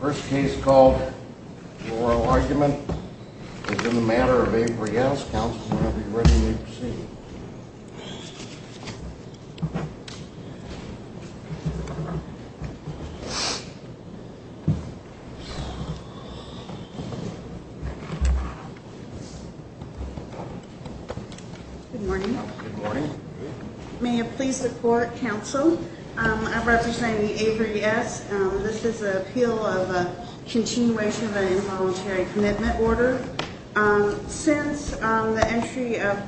First case called oral argument is in the matter of Avery S. Counsel, whenever you're ready, please proceed. Good morning. Good morning. May it please the court, counsel. I represent the Avery S. This is an appeal of a continuation of an involuntary commitment order. Since the entry of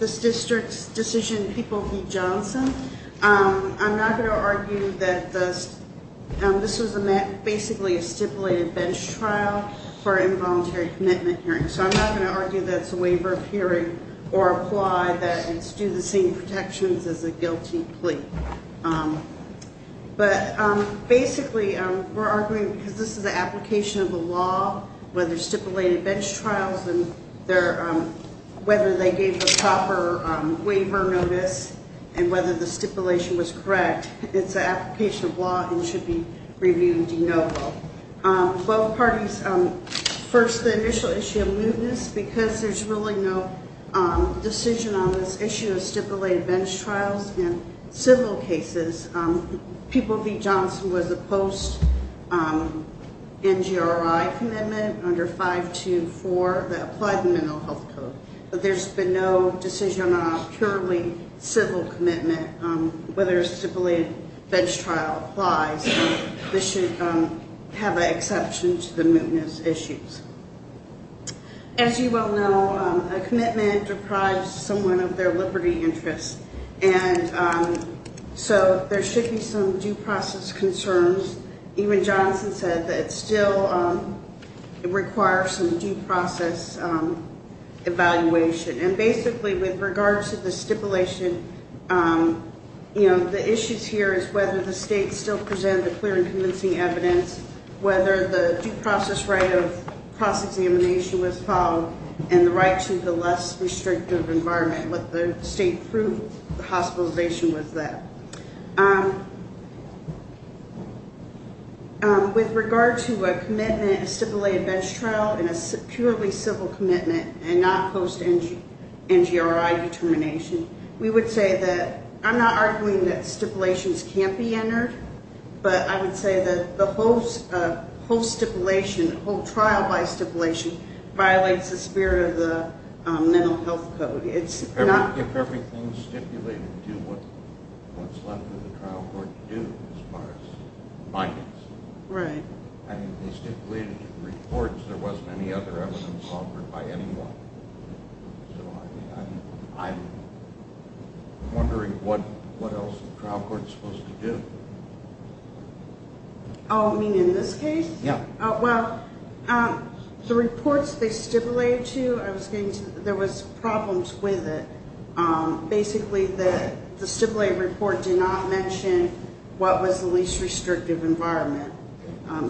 this district's decision, People v. Johnson, I'm not going to argue that this was basically a stipulated bench trial for involuntary commitment hearings. So I'm not going to argue that it's a waiver of hearing or apply that and do the same protections as a guilty plea. But basically, we're arguing because this is an application of the law, whether stipulated bench trials and whether they gave a proper waiver notice and whether the stipulation was correct. It's an application of law and should be reviewed de novo. Both parties, first, the initial issue of mootness, because there's really no decision on this issue of stipulated bench trials in civil cases. People v. Johnson was a post-NGRI commitment under 524 that applied the Mental Health Code. But there's been no decision on a purely civil commitment, whether a stipulated bench trial applies. So this should have an exception to the mootness issues. As you well know, a commitment deprives someone of their liberty interests. And so there should be some due process concerns. Even Johnson said that it still requires some due process evaluation. And basically, with regard to the stipulation, the issues here is whether the state still presented clear and convincing evidence, whether the due process right of cross-examination was followed, and the right to the less restrictive environment. What the state proved, the hospitalization was that. With regard to a commitment, a stipulated bench trial, and a purely civil commitment, and not post-NGRI determination, we would say that I'm not arguing that stipulations can't be entered, but I would say that the whole stipulation, the whole trial by stipulation, violates the spirit of the Mental Health Code. If everything stipulated to what's left for the trial court to do as far as bindings. I mean, they stipulated in reports there wasn't any other evidence offered by anyone. So I'm wondering what else the trial court's supposed to do. Oh, you mean in this case? Yeah. Well, the reports they stipulated to, there was problems with it. Basically, the stipulated report did not mention what was the least restrictive environment.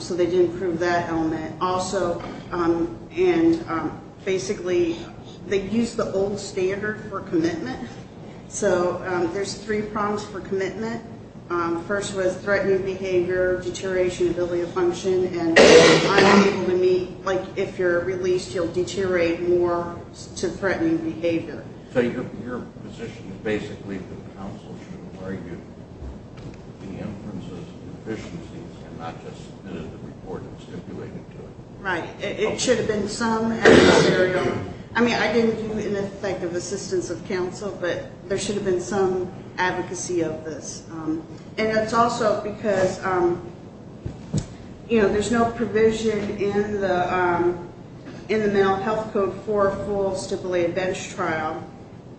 So they didn't prove that element. Also, and basically, they used the old standard for commitment. So there's three problems for commitment. First was threatening behavior, deterioration of ability to function, and if you're released, you'll deteriorate more to threatening behavior. So your position is basically that counsel should argue the inferences and deficiencies, and not just submit a report that stipulated to it. Right. It should have been some adversarial. I mean, I didn't do it in effect of assistance of counsel, but there should have been some advocacy of this. And it's also because, you know, there's no provision in the mental health code for a full stipulated bench trial.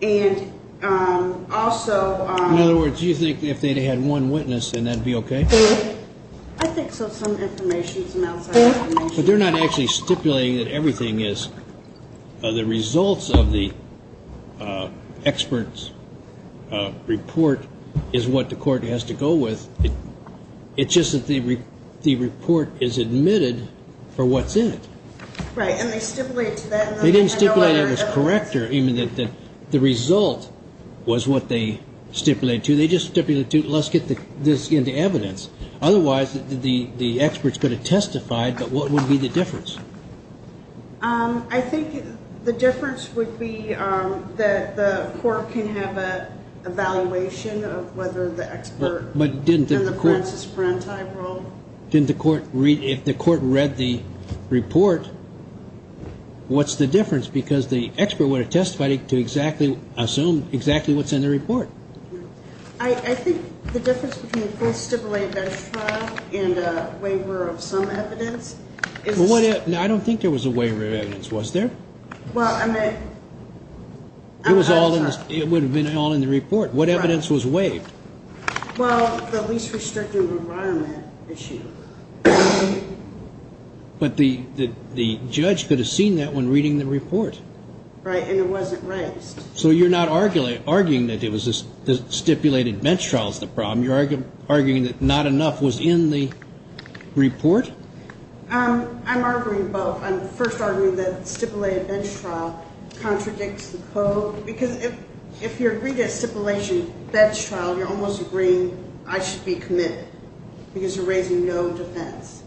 And also ‑‑ In other words, do you think if they'd had one witness, then that would be okay? I think so. Some information, some outside information. But they're not actually stipulating that everything is. The results of the expert's report is what the court has to go with. It's just that the report is admitted for what's in it. Right. And they stipulated to that. They didn't stipulate it as correct, or even that the result was what they stipulated to. They just stipulated, let's get this into evidence. Otherwise, the expert's going to testify. But what would be the difference? I think the difference would be that the court can have an evaluation of whether the expert in the Francis Branti role. If the court read the report, what's the difference? Because the expert would have testified to assume exactly what's in the report. I think the difference between a full stipulated bench trial and a waiver of some evidence is ‑‑ I don't think there was a waiver of evidence. Was there? Well, I mean ‑‑ It would have been all in the report. What evidence was waived? Well, the least restrictive environment issue. But the judge could have seen that when reading the report. Right. And it wasn't raised. So you're not arguing that stipulated bench trial is the problem. You're arguing that not enough was in the report? I'm arguing both. I'm first arguing that stipulated bench trial contradicts the code. Because if you're agreeing to a stipulation bench trial, you're almost agreeing I should be committed. Because you're raising no defense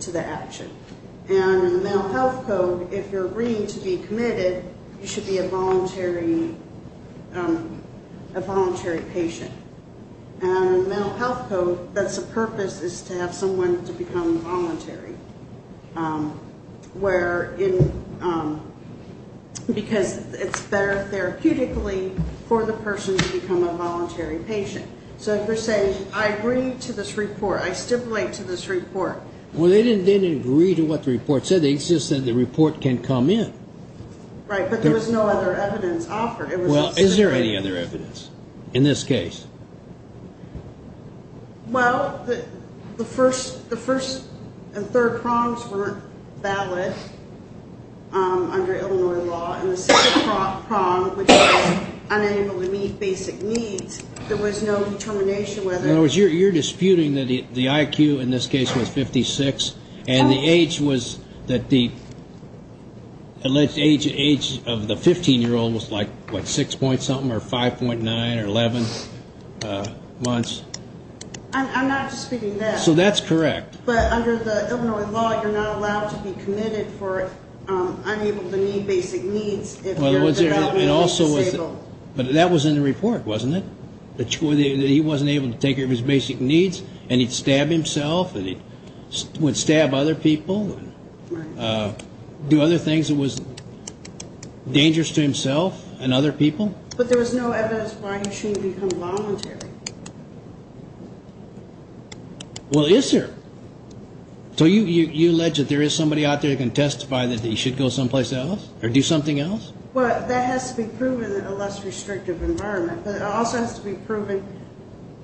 to the action. And in the Mental Health Code, if you're agreeing to be committed, you should be a voluntary patient. And in the Mental Health Code, that's the purpose is to have someone to become voluntary. Where in ‑‑ because it's better therapeutically for the person to become a voluntary patient. So if you're saying I agree to this report, I stipulate to this report. Well, they didn't agree to what the report said. They just said the report can come in. Right. But there was no other evidence offered. Well, is there any other evidence in this case? Well, the first and third prongs weren't valid under Illinois law. And the second prong, which was unenable to meet basic needs, there was no determination whether ‑‑ In other words, you're disputing that the IQ in this case was 56. And the age was that the alleged age of the 15‑year‑old was, like, what, 6 point something or 5.9 or 11 months? I'm not disputing that. So that's correct. But under the Illinois law, you're not allowed to be committed for unable to meet basic needs if you're developmentally disabled. But that was in the report, wasn't it? That he wasn't able to take care of his basic needs and he'd stab himself and he would stab other people and do other things that was dangerous to himself and other people? But there was no evidence why he shouldn't become voluntary. Well, is there? So you allege that there is somebody out there that can testify that he should go someplace else or do something else? Well, that has to be proven in a less restrictive environment. But it also has to be proven,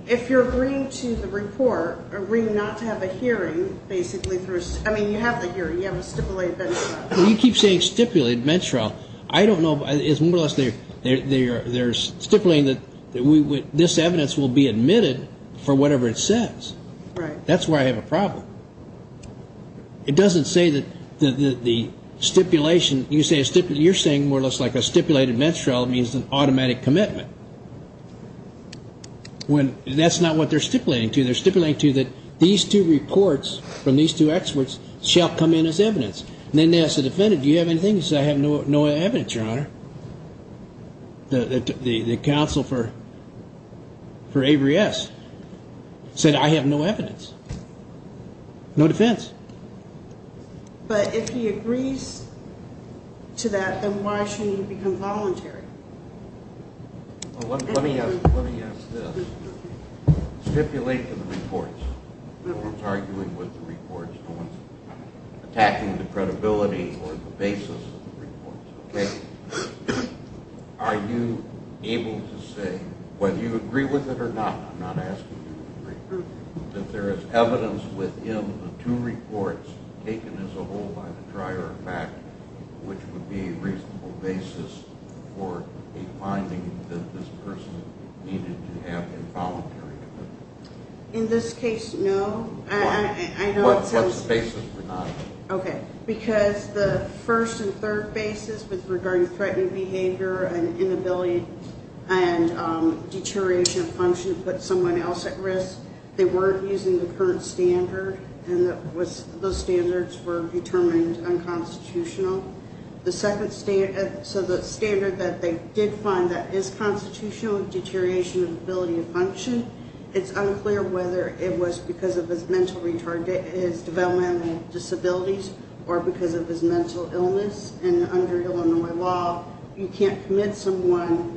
if you're agreeing to the report, agreeing not to have a hearing, basically, I mean, you have the hearing, you have a stipulated bench trial. You keep saying stipulated bench trial. I don't know, it's more or less they're stipulating that this evidence will be admitted for whatever it says. Right. That's where I have a problem. It doesn't say that the stipulation, you're saying more or less like a stipulated bench trial means an automatic commitment. That's not what they're stipulating to. They're stipulating to that these two reports from these two experts shall come in as evidence. And then they ask the defendant, do you have anything? He says, I have no evidence, Your Honor. The counsel for Avery S. said, I have no evidence. No defense. But if he agrees to that, then why shouldn't he become voluntary? Let me ask this. Stipulate the reports. No one's arguing with the reports. No one's attacking the credibility or the basis of the reports, okay? Are you able to say, whether you agree with it or not, I'm not asking you to agree, that there is evidence within the two reports taken as a whole by the trier of fact, which would be a reasonable basis for a finding that this person needed to have involuntary commitment? In this case, no. Why? What's the basis for not? Okay. Because the first and third basis was regarding threatened behavior and inability and deterioration of function put someone else at risk. They weren't using the current standard, and those standards were determined unconstitutional. So the standard that they did find that is constitutional, deterioration of ability to function, it's unclear whether it was because of his developmental disabilities or because of his mental illness. And under Illinois law, you can't commit someone,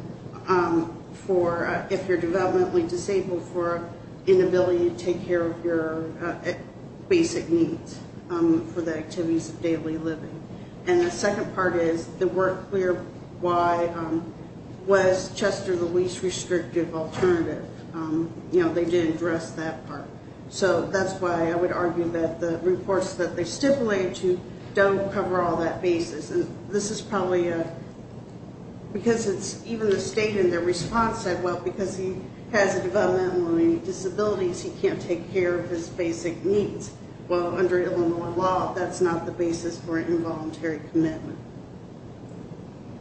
if you're developmentally disabled, for inability to take care of your basic needs for the activities of daily living. And the second part is they weren't clear why was Chester the least restrictive alternative. You know, they didn't address that part. So that's why I would argue that the reports that they stipulated to don't cover all that basis. And this is probably because it's even the state in their response said, well, because he has developmental disabilities, he can't take care of his basic needs. Well, under Illinois law, that's not the basis for an involuntary commitment.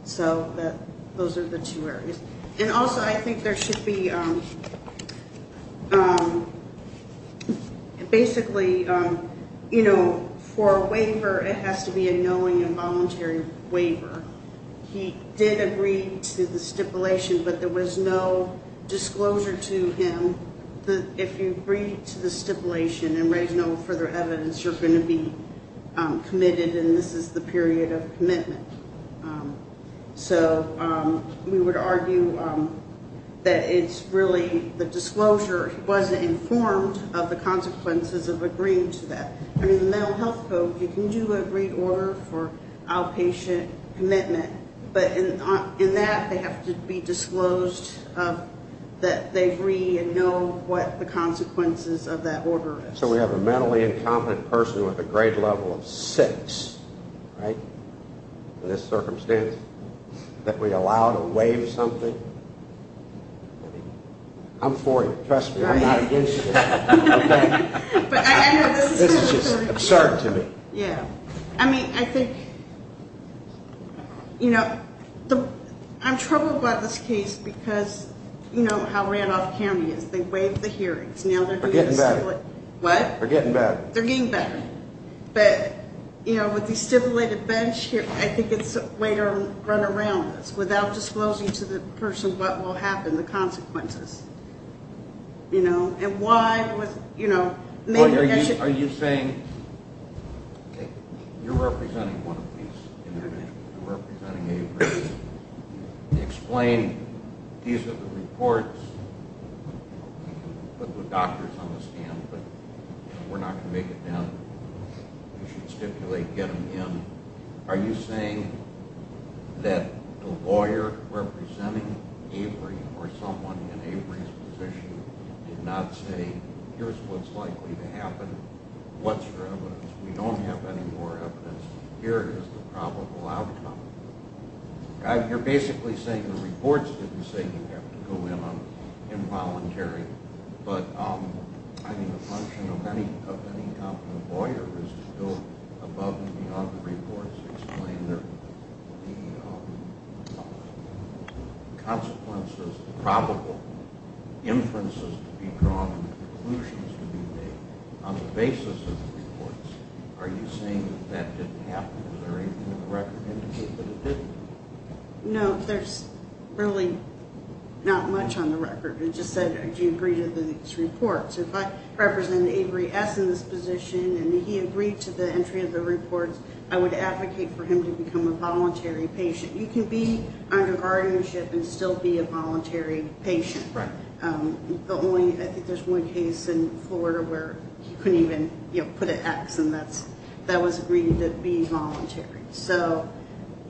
So those are the two areas. And also I think there should be basically, you know, for a waiver, it has to be a knowing involuntary waiver. He did agree to the stipulation, but there was no disclosure to him that if you agreed to the stipulation and raise no further evidence, you're going to be committed, and this is the period of commitment. So we would argue that it's really the disclosure. He wasn't informed of the consequences of agreeing to that. Under the Mental Health Code, you can do an agreed order for outpatient commitment, but in that they have to be disclosed that they agree and know what the consequences of that order is. So we have a mentally incompetent person with a grade level of 6, right, in this circumstance, that we allow to waive something. I'm for it. Trust me. I'm not against it. This is just absurd to me. Yeah. I mean, I think, you know, I'm troubled by this case because, you know, how Randolph County is. They waived the hearings. They're getting better. What? They're getting better. They're getting better. But, you know, with the stipulated bench here, I think it's a way to run around this without disclosing to the person what will happen, the consequences, you know. Are you saying, okay, you're representing one of these individuals. You're representing Avery. Explain, these are the reports. You can put the doctors on the stand, but we're not going to make it down. You should stipulate, get them in. Are you saying that the lawyer representing Avery or someone in Avery's position did not say, here's what's likely to happen, what's your evidence? We don't have any more evidence. Here is the probable outcome. You're basically saying the reports didn't say you have to go in involuntarily, but I mean the function of any competent lawyer is to go above and beyond the reports to explain the consequences, the probable inferences to be drawn and conclusions to be made on the basis of the reports. Are you saying that that didn't happen? Is there anything in the record indicating that it didn't? No, there's really not much on the record. It just said, do you agree to these reports? If I represent Avery S. in this position and he agreed to the entry of the reports, I would advocate for him to become a voluntary patient. You can be under guardianship and still be a voluntary patient. I think there's one case in Florida where he couldn't even put an X, and that was agreed to be voluntary.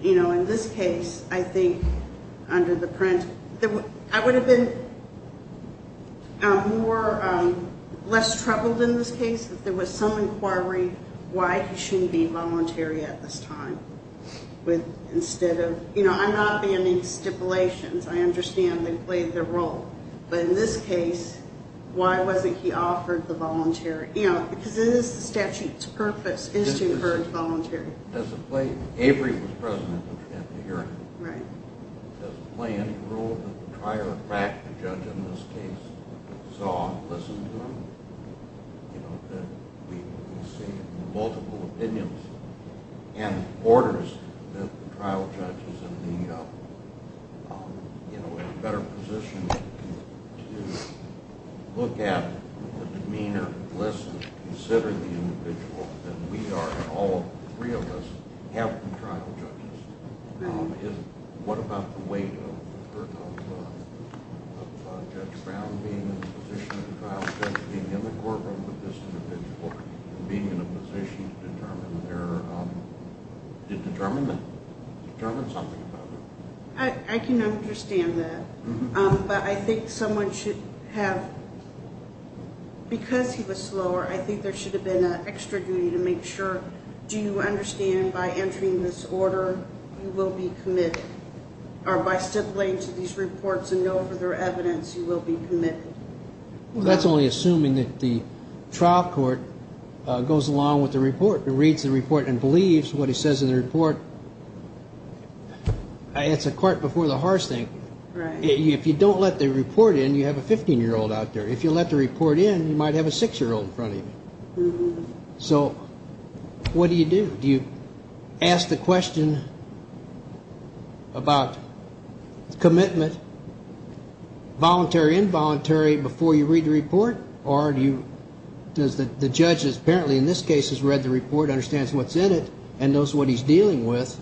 In this case, I think under the print, I would have been less troubled in this case if there was some inquiry why he shouldn't be voluntary at this time. I'm not banning stipulations. I understand they play their role. But in this case, why wasn't he offered the voluntary? Because it is the statute's purpose is to encourage voluntary. Does it play? Avery was present at the hearing. Right. Does it play any role that the trial or fact the judge in this case saw and listened to him? We see multiple opinions and orders that the trial judge is in a better position to look at the demeanor, listen, consider the individual than we are and all three of us have been trial judges. What about the weight of Judge Brown being in the position of the trial judge being in the courtroom with this individual and being in a position to determine something about it? I can understand that. But I think someone should have, because he was slower, I think there should have been an extra duty to make sure, do you understand by entering this order you will be committed or by stipulating to these reports and no further evidence you will be committed? That's only assuming that the trial court goes along with the report and reads the report and believes what he says in the report. It's a cart before the horse thing. Right. If you don't let the report in, you have a 15-year-old out there. If you let the report in, you might have a 6-year-old in front of you. So what do you do? Do you ask the question about commitment, voluntary, involuntary, before you read the report? Or does the judge that apparently in this case has read the report, understands what's in it and knows what he's dealing with,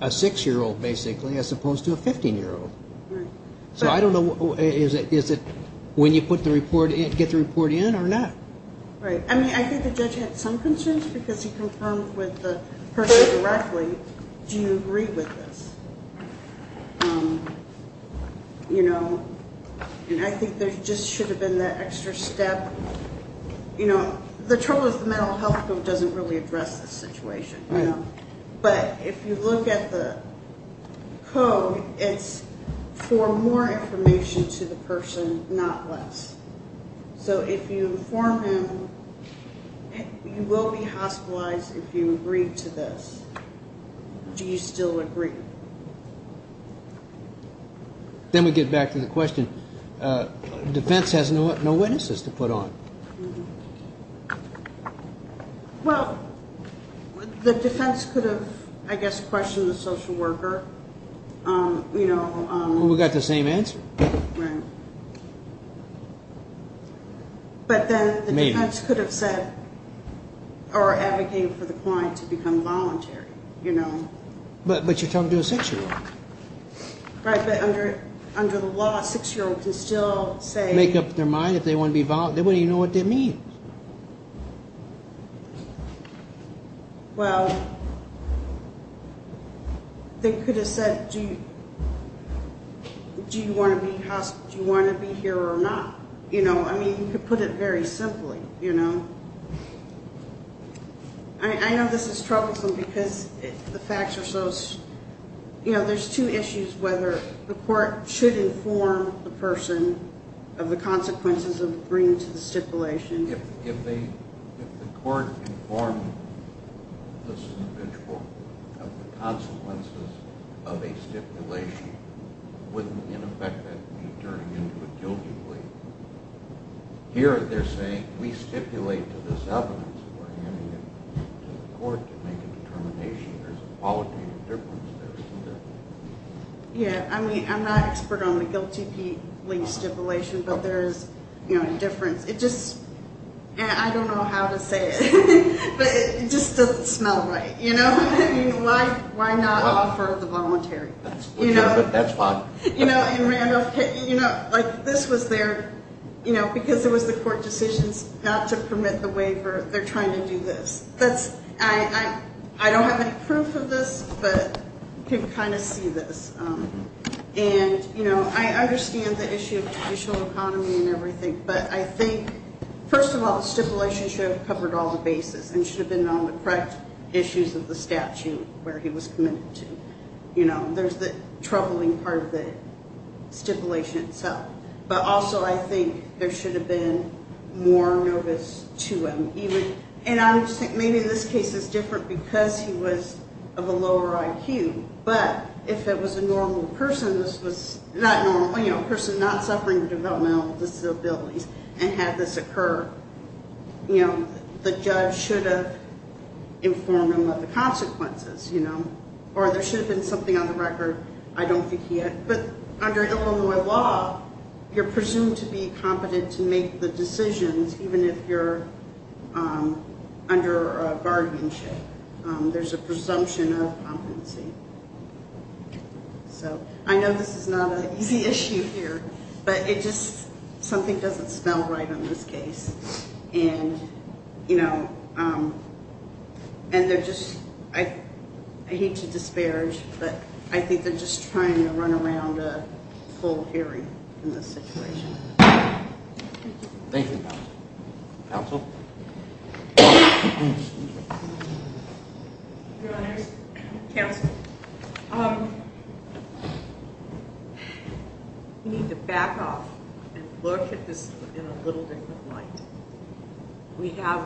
a 6-year-old basically, as opposed to a 15-year-old? Right. So I don't know, is it when you get the report in or not? Right. I mean, I think the judge had some concerns because he confirmed with the person directly, do you agree with this? And I think there just should have been that extra step. You know, the trouble is the mental health code doesn't really address this situation. Right. But if you look at the code, it's for more information to the person, not less. So if you inform him you will be hospitalized if you agree to this, do you still agree? Then we get back to the question. Defense has no witnesses to put on. Well, the defense could have, I guess, questioned the social worker. We got the same answer. Right. But then the defense could have said or advocated for the client to become voluntary. But you're talking to a 6-year-old. Right. But under the law, a 6-year-old can still say. Make up their mind if they want to be voluntary. They wouldn't even know what they mean. Well, they could have said, do you want to be here or not? You know, I mean, you could put it very simply, you know. I know this is troublesome because the facts are so, you know, there's two issues whether the court should inform the person of the consequences of bringing to the stipulation. If the court informed this individual of the consequences of a stipulation, wouldn't, in effect, that be turning into a guilty plea? Here they're saying we stipulate to this evidence that we're handing it to the court to make a determination. There's a qualitative difference there, isn't there? Yeah, I mean, I'm not an expert on the guilty plea stipulation, but there is a difference. It just, I don't know how to say it, but it just doesn't smell right, you know. I mean, why not offer the voluntary? That's legitimate. That's fine. You know, and Randolph, you know, like this was their, you know, because it was the court decisions not to permit the waiver, they're trying to do this. I don't have any proof of this, but you can kind of see this. And, you know, I understand the issue of traditional economy and everything, but I think, first of all, the stipulation should have covered all the bases and should have been on the correct issues of the statute where he was committed to. You know, there's the troubling part of the stipulation itself. But also I think there should have been more notice to him. And I would think maybe this case is different because he was of a lower IQ, but if it was a normal person, this was not normal, you know, a person not suffering developmental disabilities and had this occur, you know, the judge should have informed him of the consequences, you know, or there should have been something on the record. I don't think he had. But under Illinois law, you're presumed to be competent to make the decisions, even if you're under a guardianship. There's a presumption of competency. So I know this is not an easy issue here, but it just, something doesn't smell right on this case. And, you know, and they're just, I hate to disparage, but I think they're just trying to run around a full theory in this situation. Thank you, counsel. Your Honors, counsel. We need to back off and look at this in a little different light. We have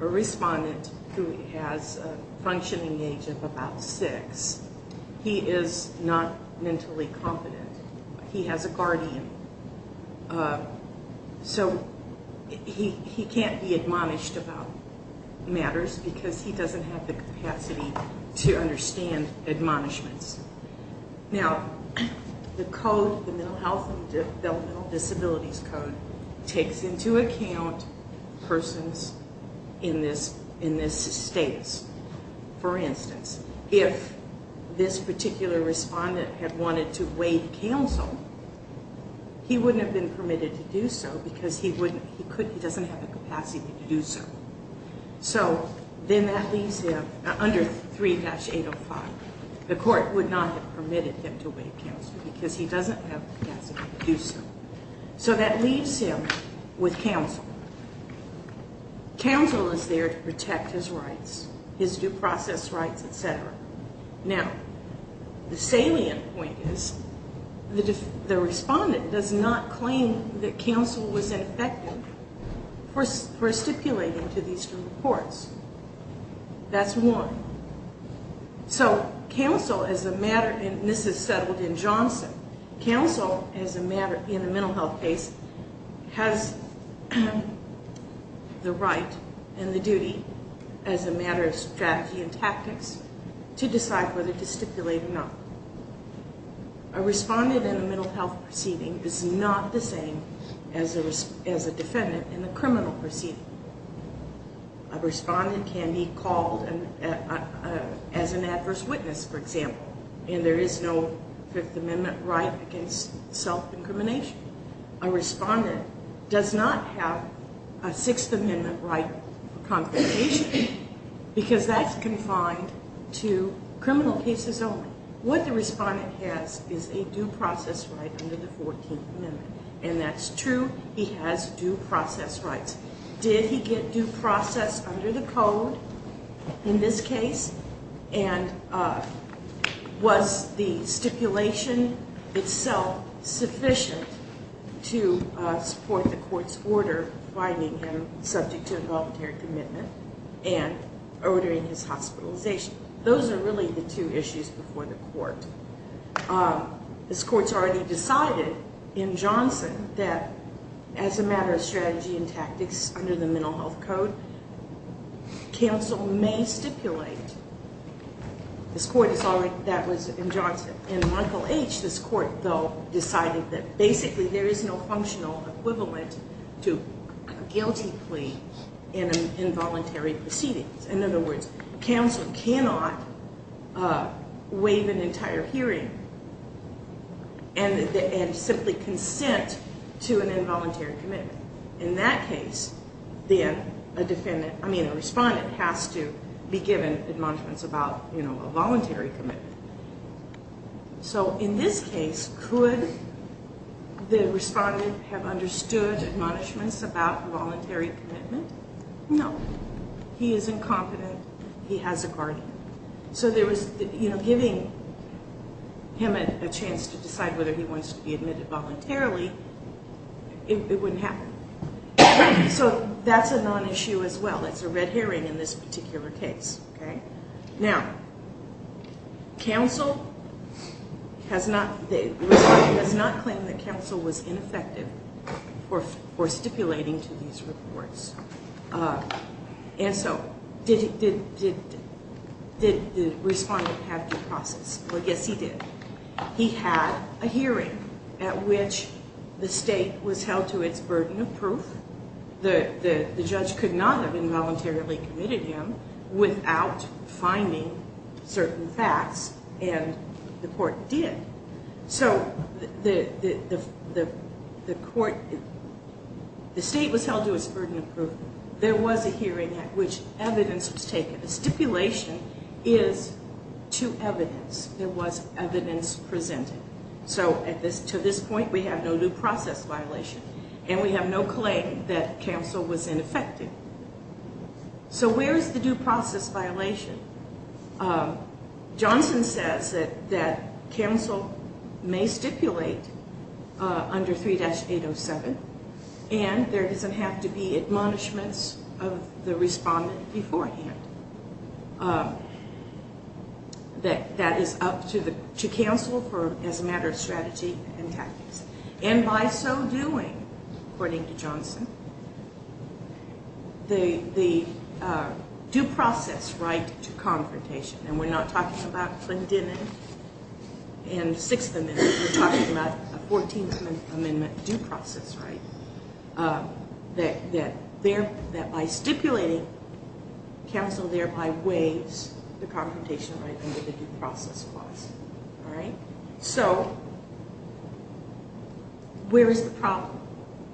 a respondent who has a functioning age of about six. He is not mentally competent. He has a guardian. So he can't be admonished about matters because he doesn't have the capacity to understand admonishments. Now, the code, the Mental Health and Developmental Disabilities Code, takes into account persons in this status. For instance, if this particular respondent had wanted to waive counsel, he wouldn't have been permitted to do so because he doesn't have the capacity to do so. So then that leaves him under 3-805. The court would not have permitted him to waive counsel because he doesn't have the capacity to do so. So that leaves him with counsel. Counsel is there to protect his rights, his due process rights, et cetera. Now, the salient point is the respondent does not claim that counsel was ineffective for stipulating to these two courts. That's one. So counsel, as a matter, and this is settled in Johnson, counsel, as a matter in a mental health case, has the right and the duty as a matter of strategy and tactics to decide whether to stipulate or not. A respondent in a mental health proceeding is not the same as a defendant in a criminal proceeding. A respondent can be called as an adverse witness, for example, and there is no Fifth Amendment right against self-incrimination. A respondent does not have a Sixth Amendment right for confrontation because that's confined to criminal cases only. What the respondent has is a due process right under the 14th Amendment, and that's true. He has due process rights. Did he get due process under the code in this case, and was the stipulation itself sufficient to support the court's order finding him subject to involuntary commitment and ordering his hospitalization? Those are really the two issues before the court. This court's already decided in Johnson that as a matter of strategy and tactics under the Mental Health Code, counsel may stipulate. This court has already decided that was in Johnson. In Michael H., this court, though, decided that basically there is no functional equivalent to a guilty plea in an involuntary proceeding. In other words, counsel cannot waive an entire hearing and simply consent to an involuntary commitment. In that case, then, a respondent has to be given admonishments about a voluntary commitment. So in this case, could the respondent have understood admonishments about voluntary commitment? No. He is incompetent. He has a guardian. So giving him a chance to decide whether he wants to be admitted voluntarily, it wouldn't happen. So that's a non-issue as well. It's a red herring in this particular case. Now, counsel has not claimed that counsel was ineffective for stipulating to these reports. And so did the respondent have due process? Well, yes, he did. He had a hearing at which the state was held to its burden of proof. The judge could not have involuntarily committed him without finding certain facts, and the court did. So the state was held to its burden of proof. There was a hearing at which evidence was taken. The stipulation is to evidence. There was evidence presented. So to this point, we have no due process violation, and we have no claim that counsel was ineffective. So where is the due process violation? Johnson says that counsel may stipulate under 3-807, and there doesn't have to be admonishments of the respondent beforehand. That is up to counsel as a matter of strategy and tactics. And by so doing, according to Johnson, the due process right to confrontation, and we're not talking about Clinton and Sixth Amendment. We're talking about a 14th Amendment due process right that by stipulating, counsel thereby waives the confrontation right under the due process clause. So where is the problem?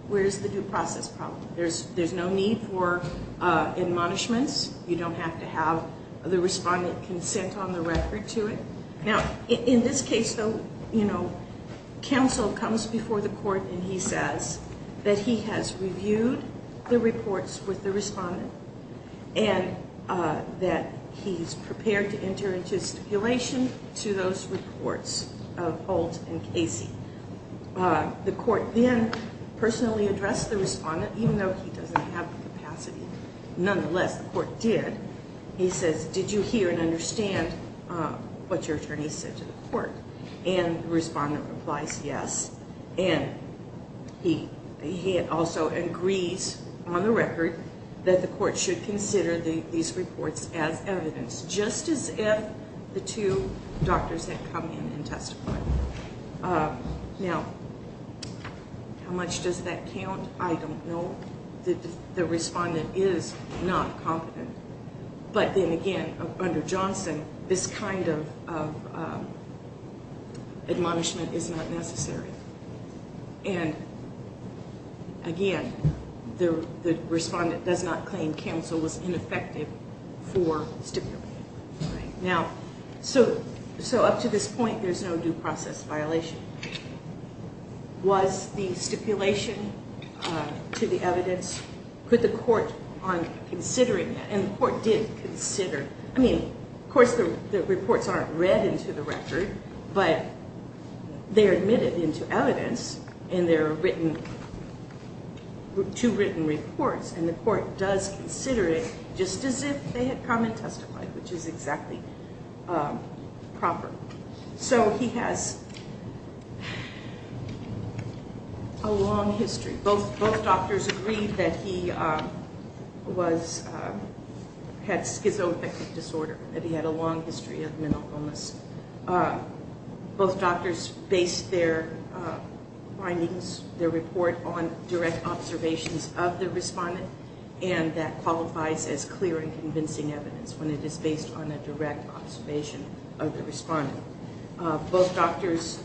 Where is the due process problem? There's no need for admonishments. You don't have to have the respondent consent on the record to it. Now, in this case, though, counsel comes before the court, and he says that he has reviewed the reports with the respondent and that he's prepared to enter into stipulation to those reports of Holt and Casey. The court then personally addressed the respondent, even though he doesn't have the capacity. Nonetheless, the court did. He says, did you hear and understand what your attorney said to the court? And the respondent replies yes, and he also agrees on the record that the court should consider these reports as evidence, just as if the two doctors had come in and testified. Now, how much does that count? I don't know. The respondent is not competent. But then again, under Johnson, this kind of admonishment is not necessary. And again, the respondent does not claim counsel was ineffective for stipulating. So up to this point, there's no due process violation. Was the stipulation to the evidence? Could the court consider it? And the court did consider it. I mean, of course the reports aren't read into the record, but they're admitted into evidence, and there are two written reports, and the court does consider it just as if they had come and testified, which is exactly proper. So he has a long history. Both doctors agreed that he had schizoaffective disorder, that he had a long history of mental illness. Both doctors based their findings, their report, on direct observations of the respondent, and that qualifies as clear and convincing evidence when it is based on a direct observation of the respondent. Both doctors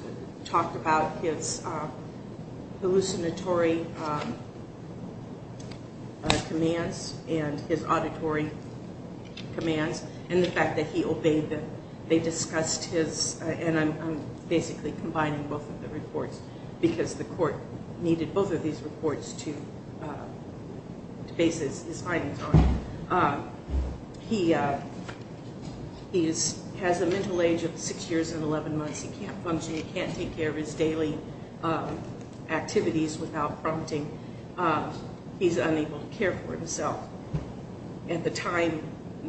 talked about his hallucinatory commands and his auditory commands and the fact that he obeyed them. They discussed his, and I'm basically combining both of the reports because the court needed both of these reports to base his findings on. He has a mental age of 6 years and 11 months. He can't function. He can't take care of his daily activities without prompting. He's unable to care for himself. At the time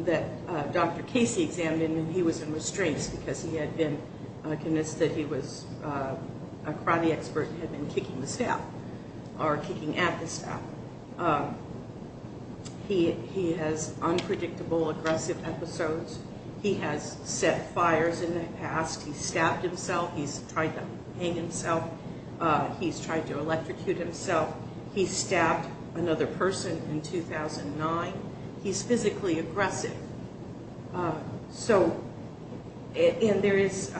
that Dr. Casey examined him, he was in restraints because he had been convinced that he was a karate expert and had been kicking the staff or kicking at the staff. He has unpredictable aggressive episodes. He has set fires in the past. He's stabbed himself. He's tried to hang himself. He's tried to electrocute himself. He stabbed another person in 2009. He's physically aggressive. He's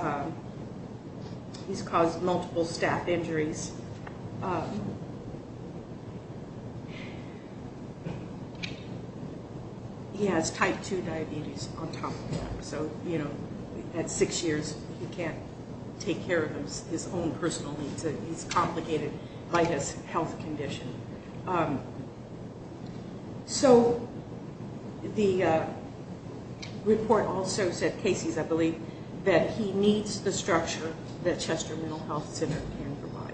caused multiple staff injuries. He has type 2 diabetes on top of that. So, you know, at 6 years, he can't take care of his own personal needs. He's complicated by his health condition. So the report also said, Casey's, I believe, that he needs the structure that Chester Mental Health Center can provide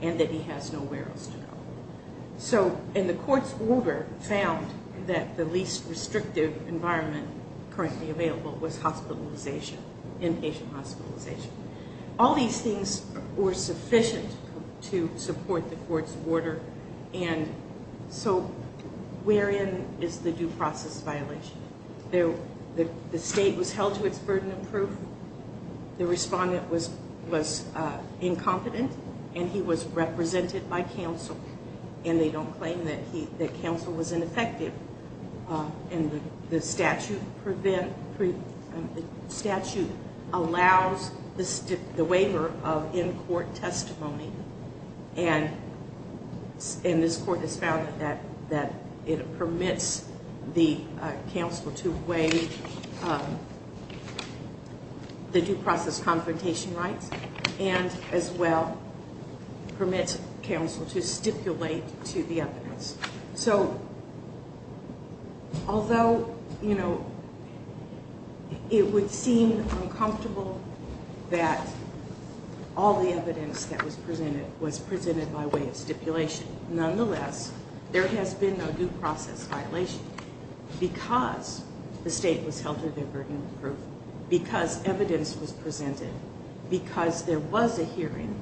and that he has nowhere else to go. And the court's order found that the least restrictive environment currently available was hospitalization, inpatient hospitalization. All these things were sufficient to support the court's order. So wherein is the due process violation? The state was held to its burden of proof. The respondent was incompetent, and he was represented by counsel, and they don't claim that counsel was ineffective. And the statute allows the waiver of in-court testimony, and this court has found that it permits the counsel to waive the due process confrontation rights and as well permits counsel to stipulate to the evidence. So although, you know, it would seem uncomfortable that all the evidence that was presented was presented by way of stipulation, nonetheless, there has been no due process violation because the state was held to their burden of proof, because evidence was presented, because there was a hearing,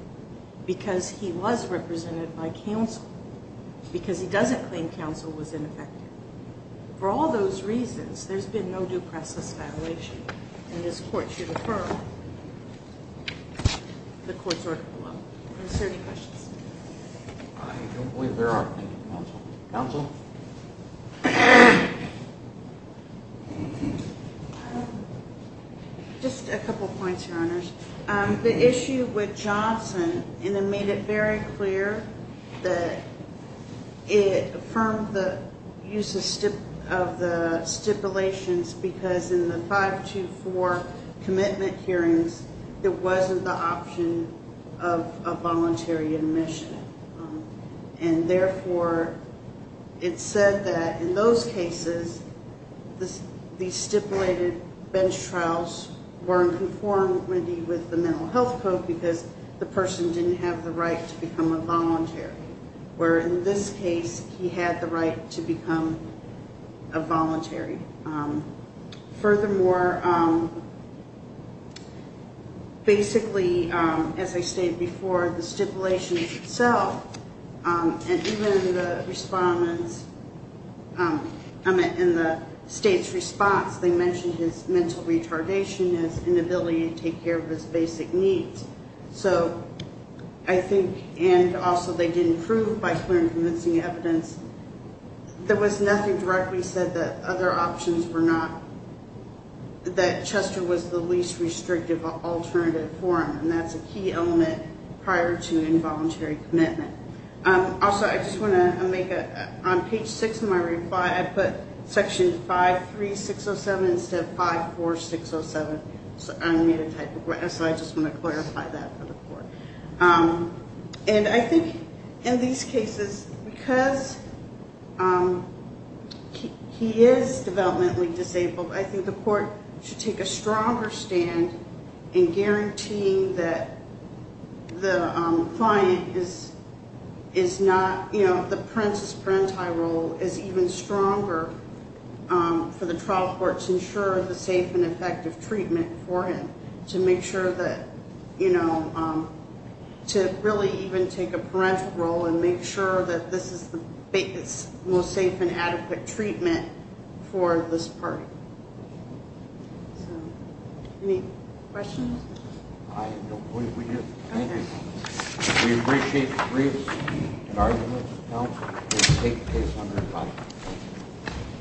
because he was represented by counsel, because he doesn't claim counsel was ineffective. For all those reasons, there's been no due process violation, and this court should affirm the court's order below. Is there any questions? I don't believe there are. Thank you, counsel. Counsel? Just a couple points, Your Honors. The issue with Johnson made it very clear that it affirmed the use of the stipulations because in the 524 commitment hearings, it wasn't the option of a voluntary admission. And therefore, it said that in those cases, the stipulated bench trials were in conformity with the mental health code because the person didn't have the right to become a voluntary, where in this case, he had the right to become a voluntary. Furthermore, basically, as I stated before, the stipulation itself, and even the respondents in the state's response, they mentioned his mental retardation, his inability to take care of his basic needs. So I think, and also they didn't prove by clear and convincing evidence, there was nothing directly said that other options were not, that Chester was the least restrictive alternative for him, and that's a key element prior to involuntary commitment. Also, I just want to make a, on page six of my reply, I put section 53607 instead of 54607, so I made a typo, so I just want to clarify that for the court. And I think in these cases, because he is developmentally disabled, I think the court should take a stronger stand in guaranteeing that the client is not, you know, the parensis parenti role is even stronger for the trial court to ensure the safe and effective treatment for him, to make sure that, you know, to really even take a parental role and make sure that this is the most safe and adequate treatment for this party. So, any questions? I don't believe we do. Thank you. We appreciate the briefs and arguments of counsel. The state pays $105,000.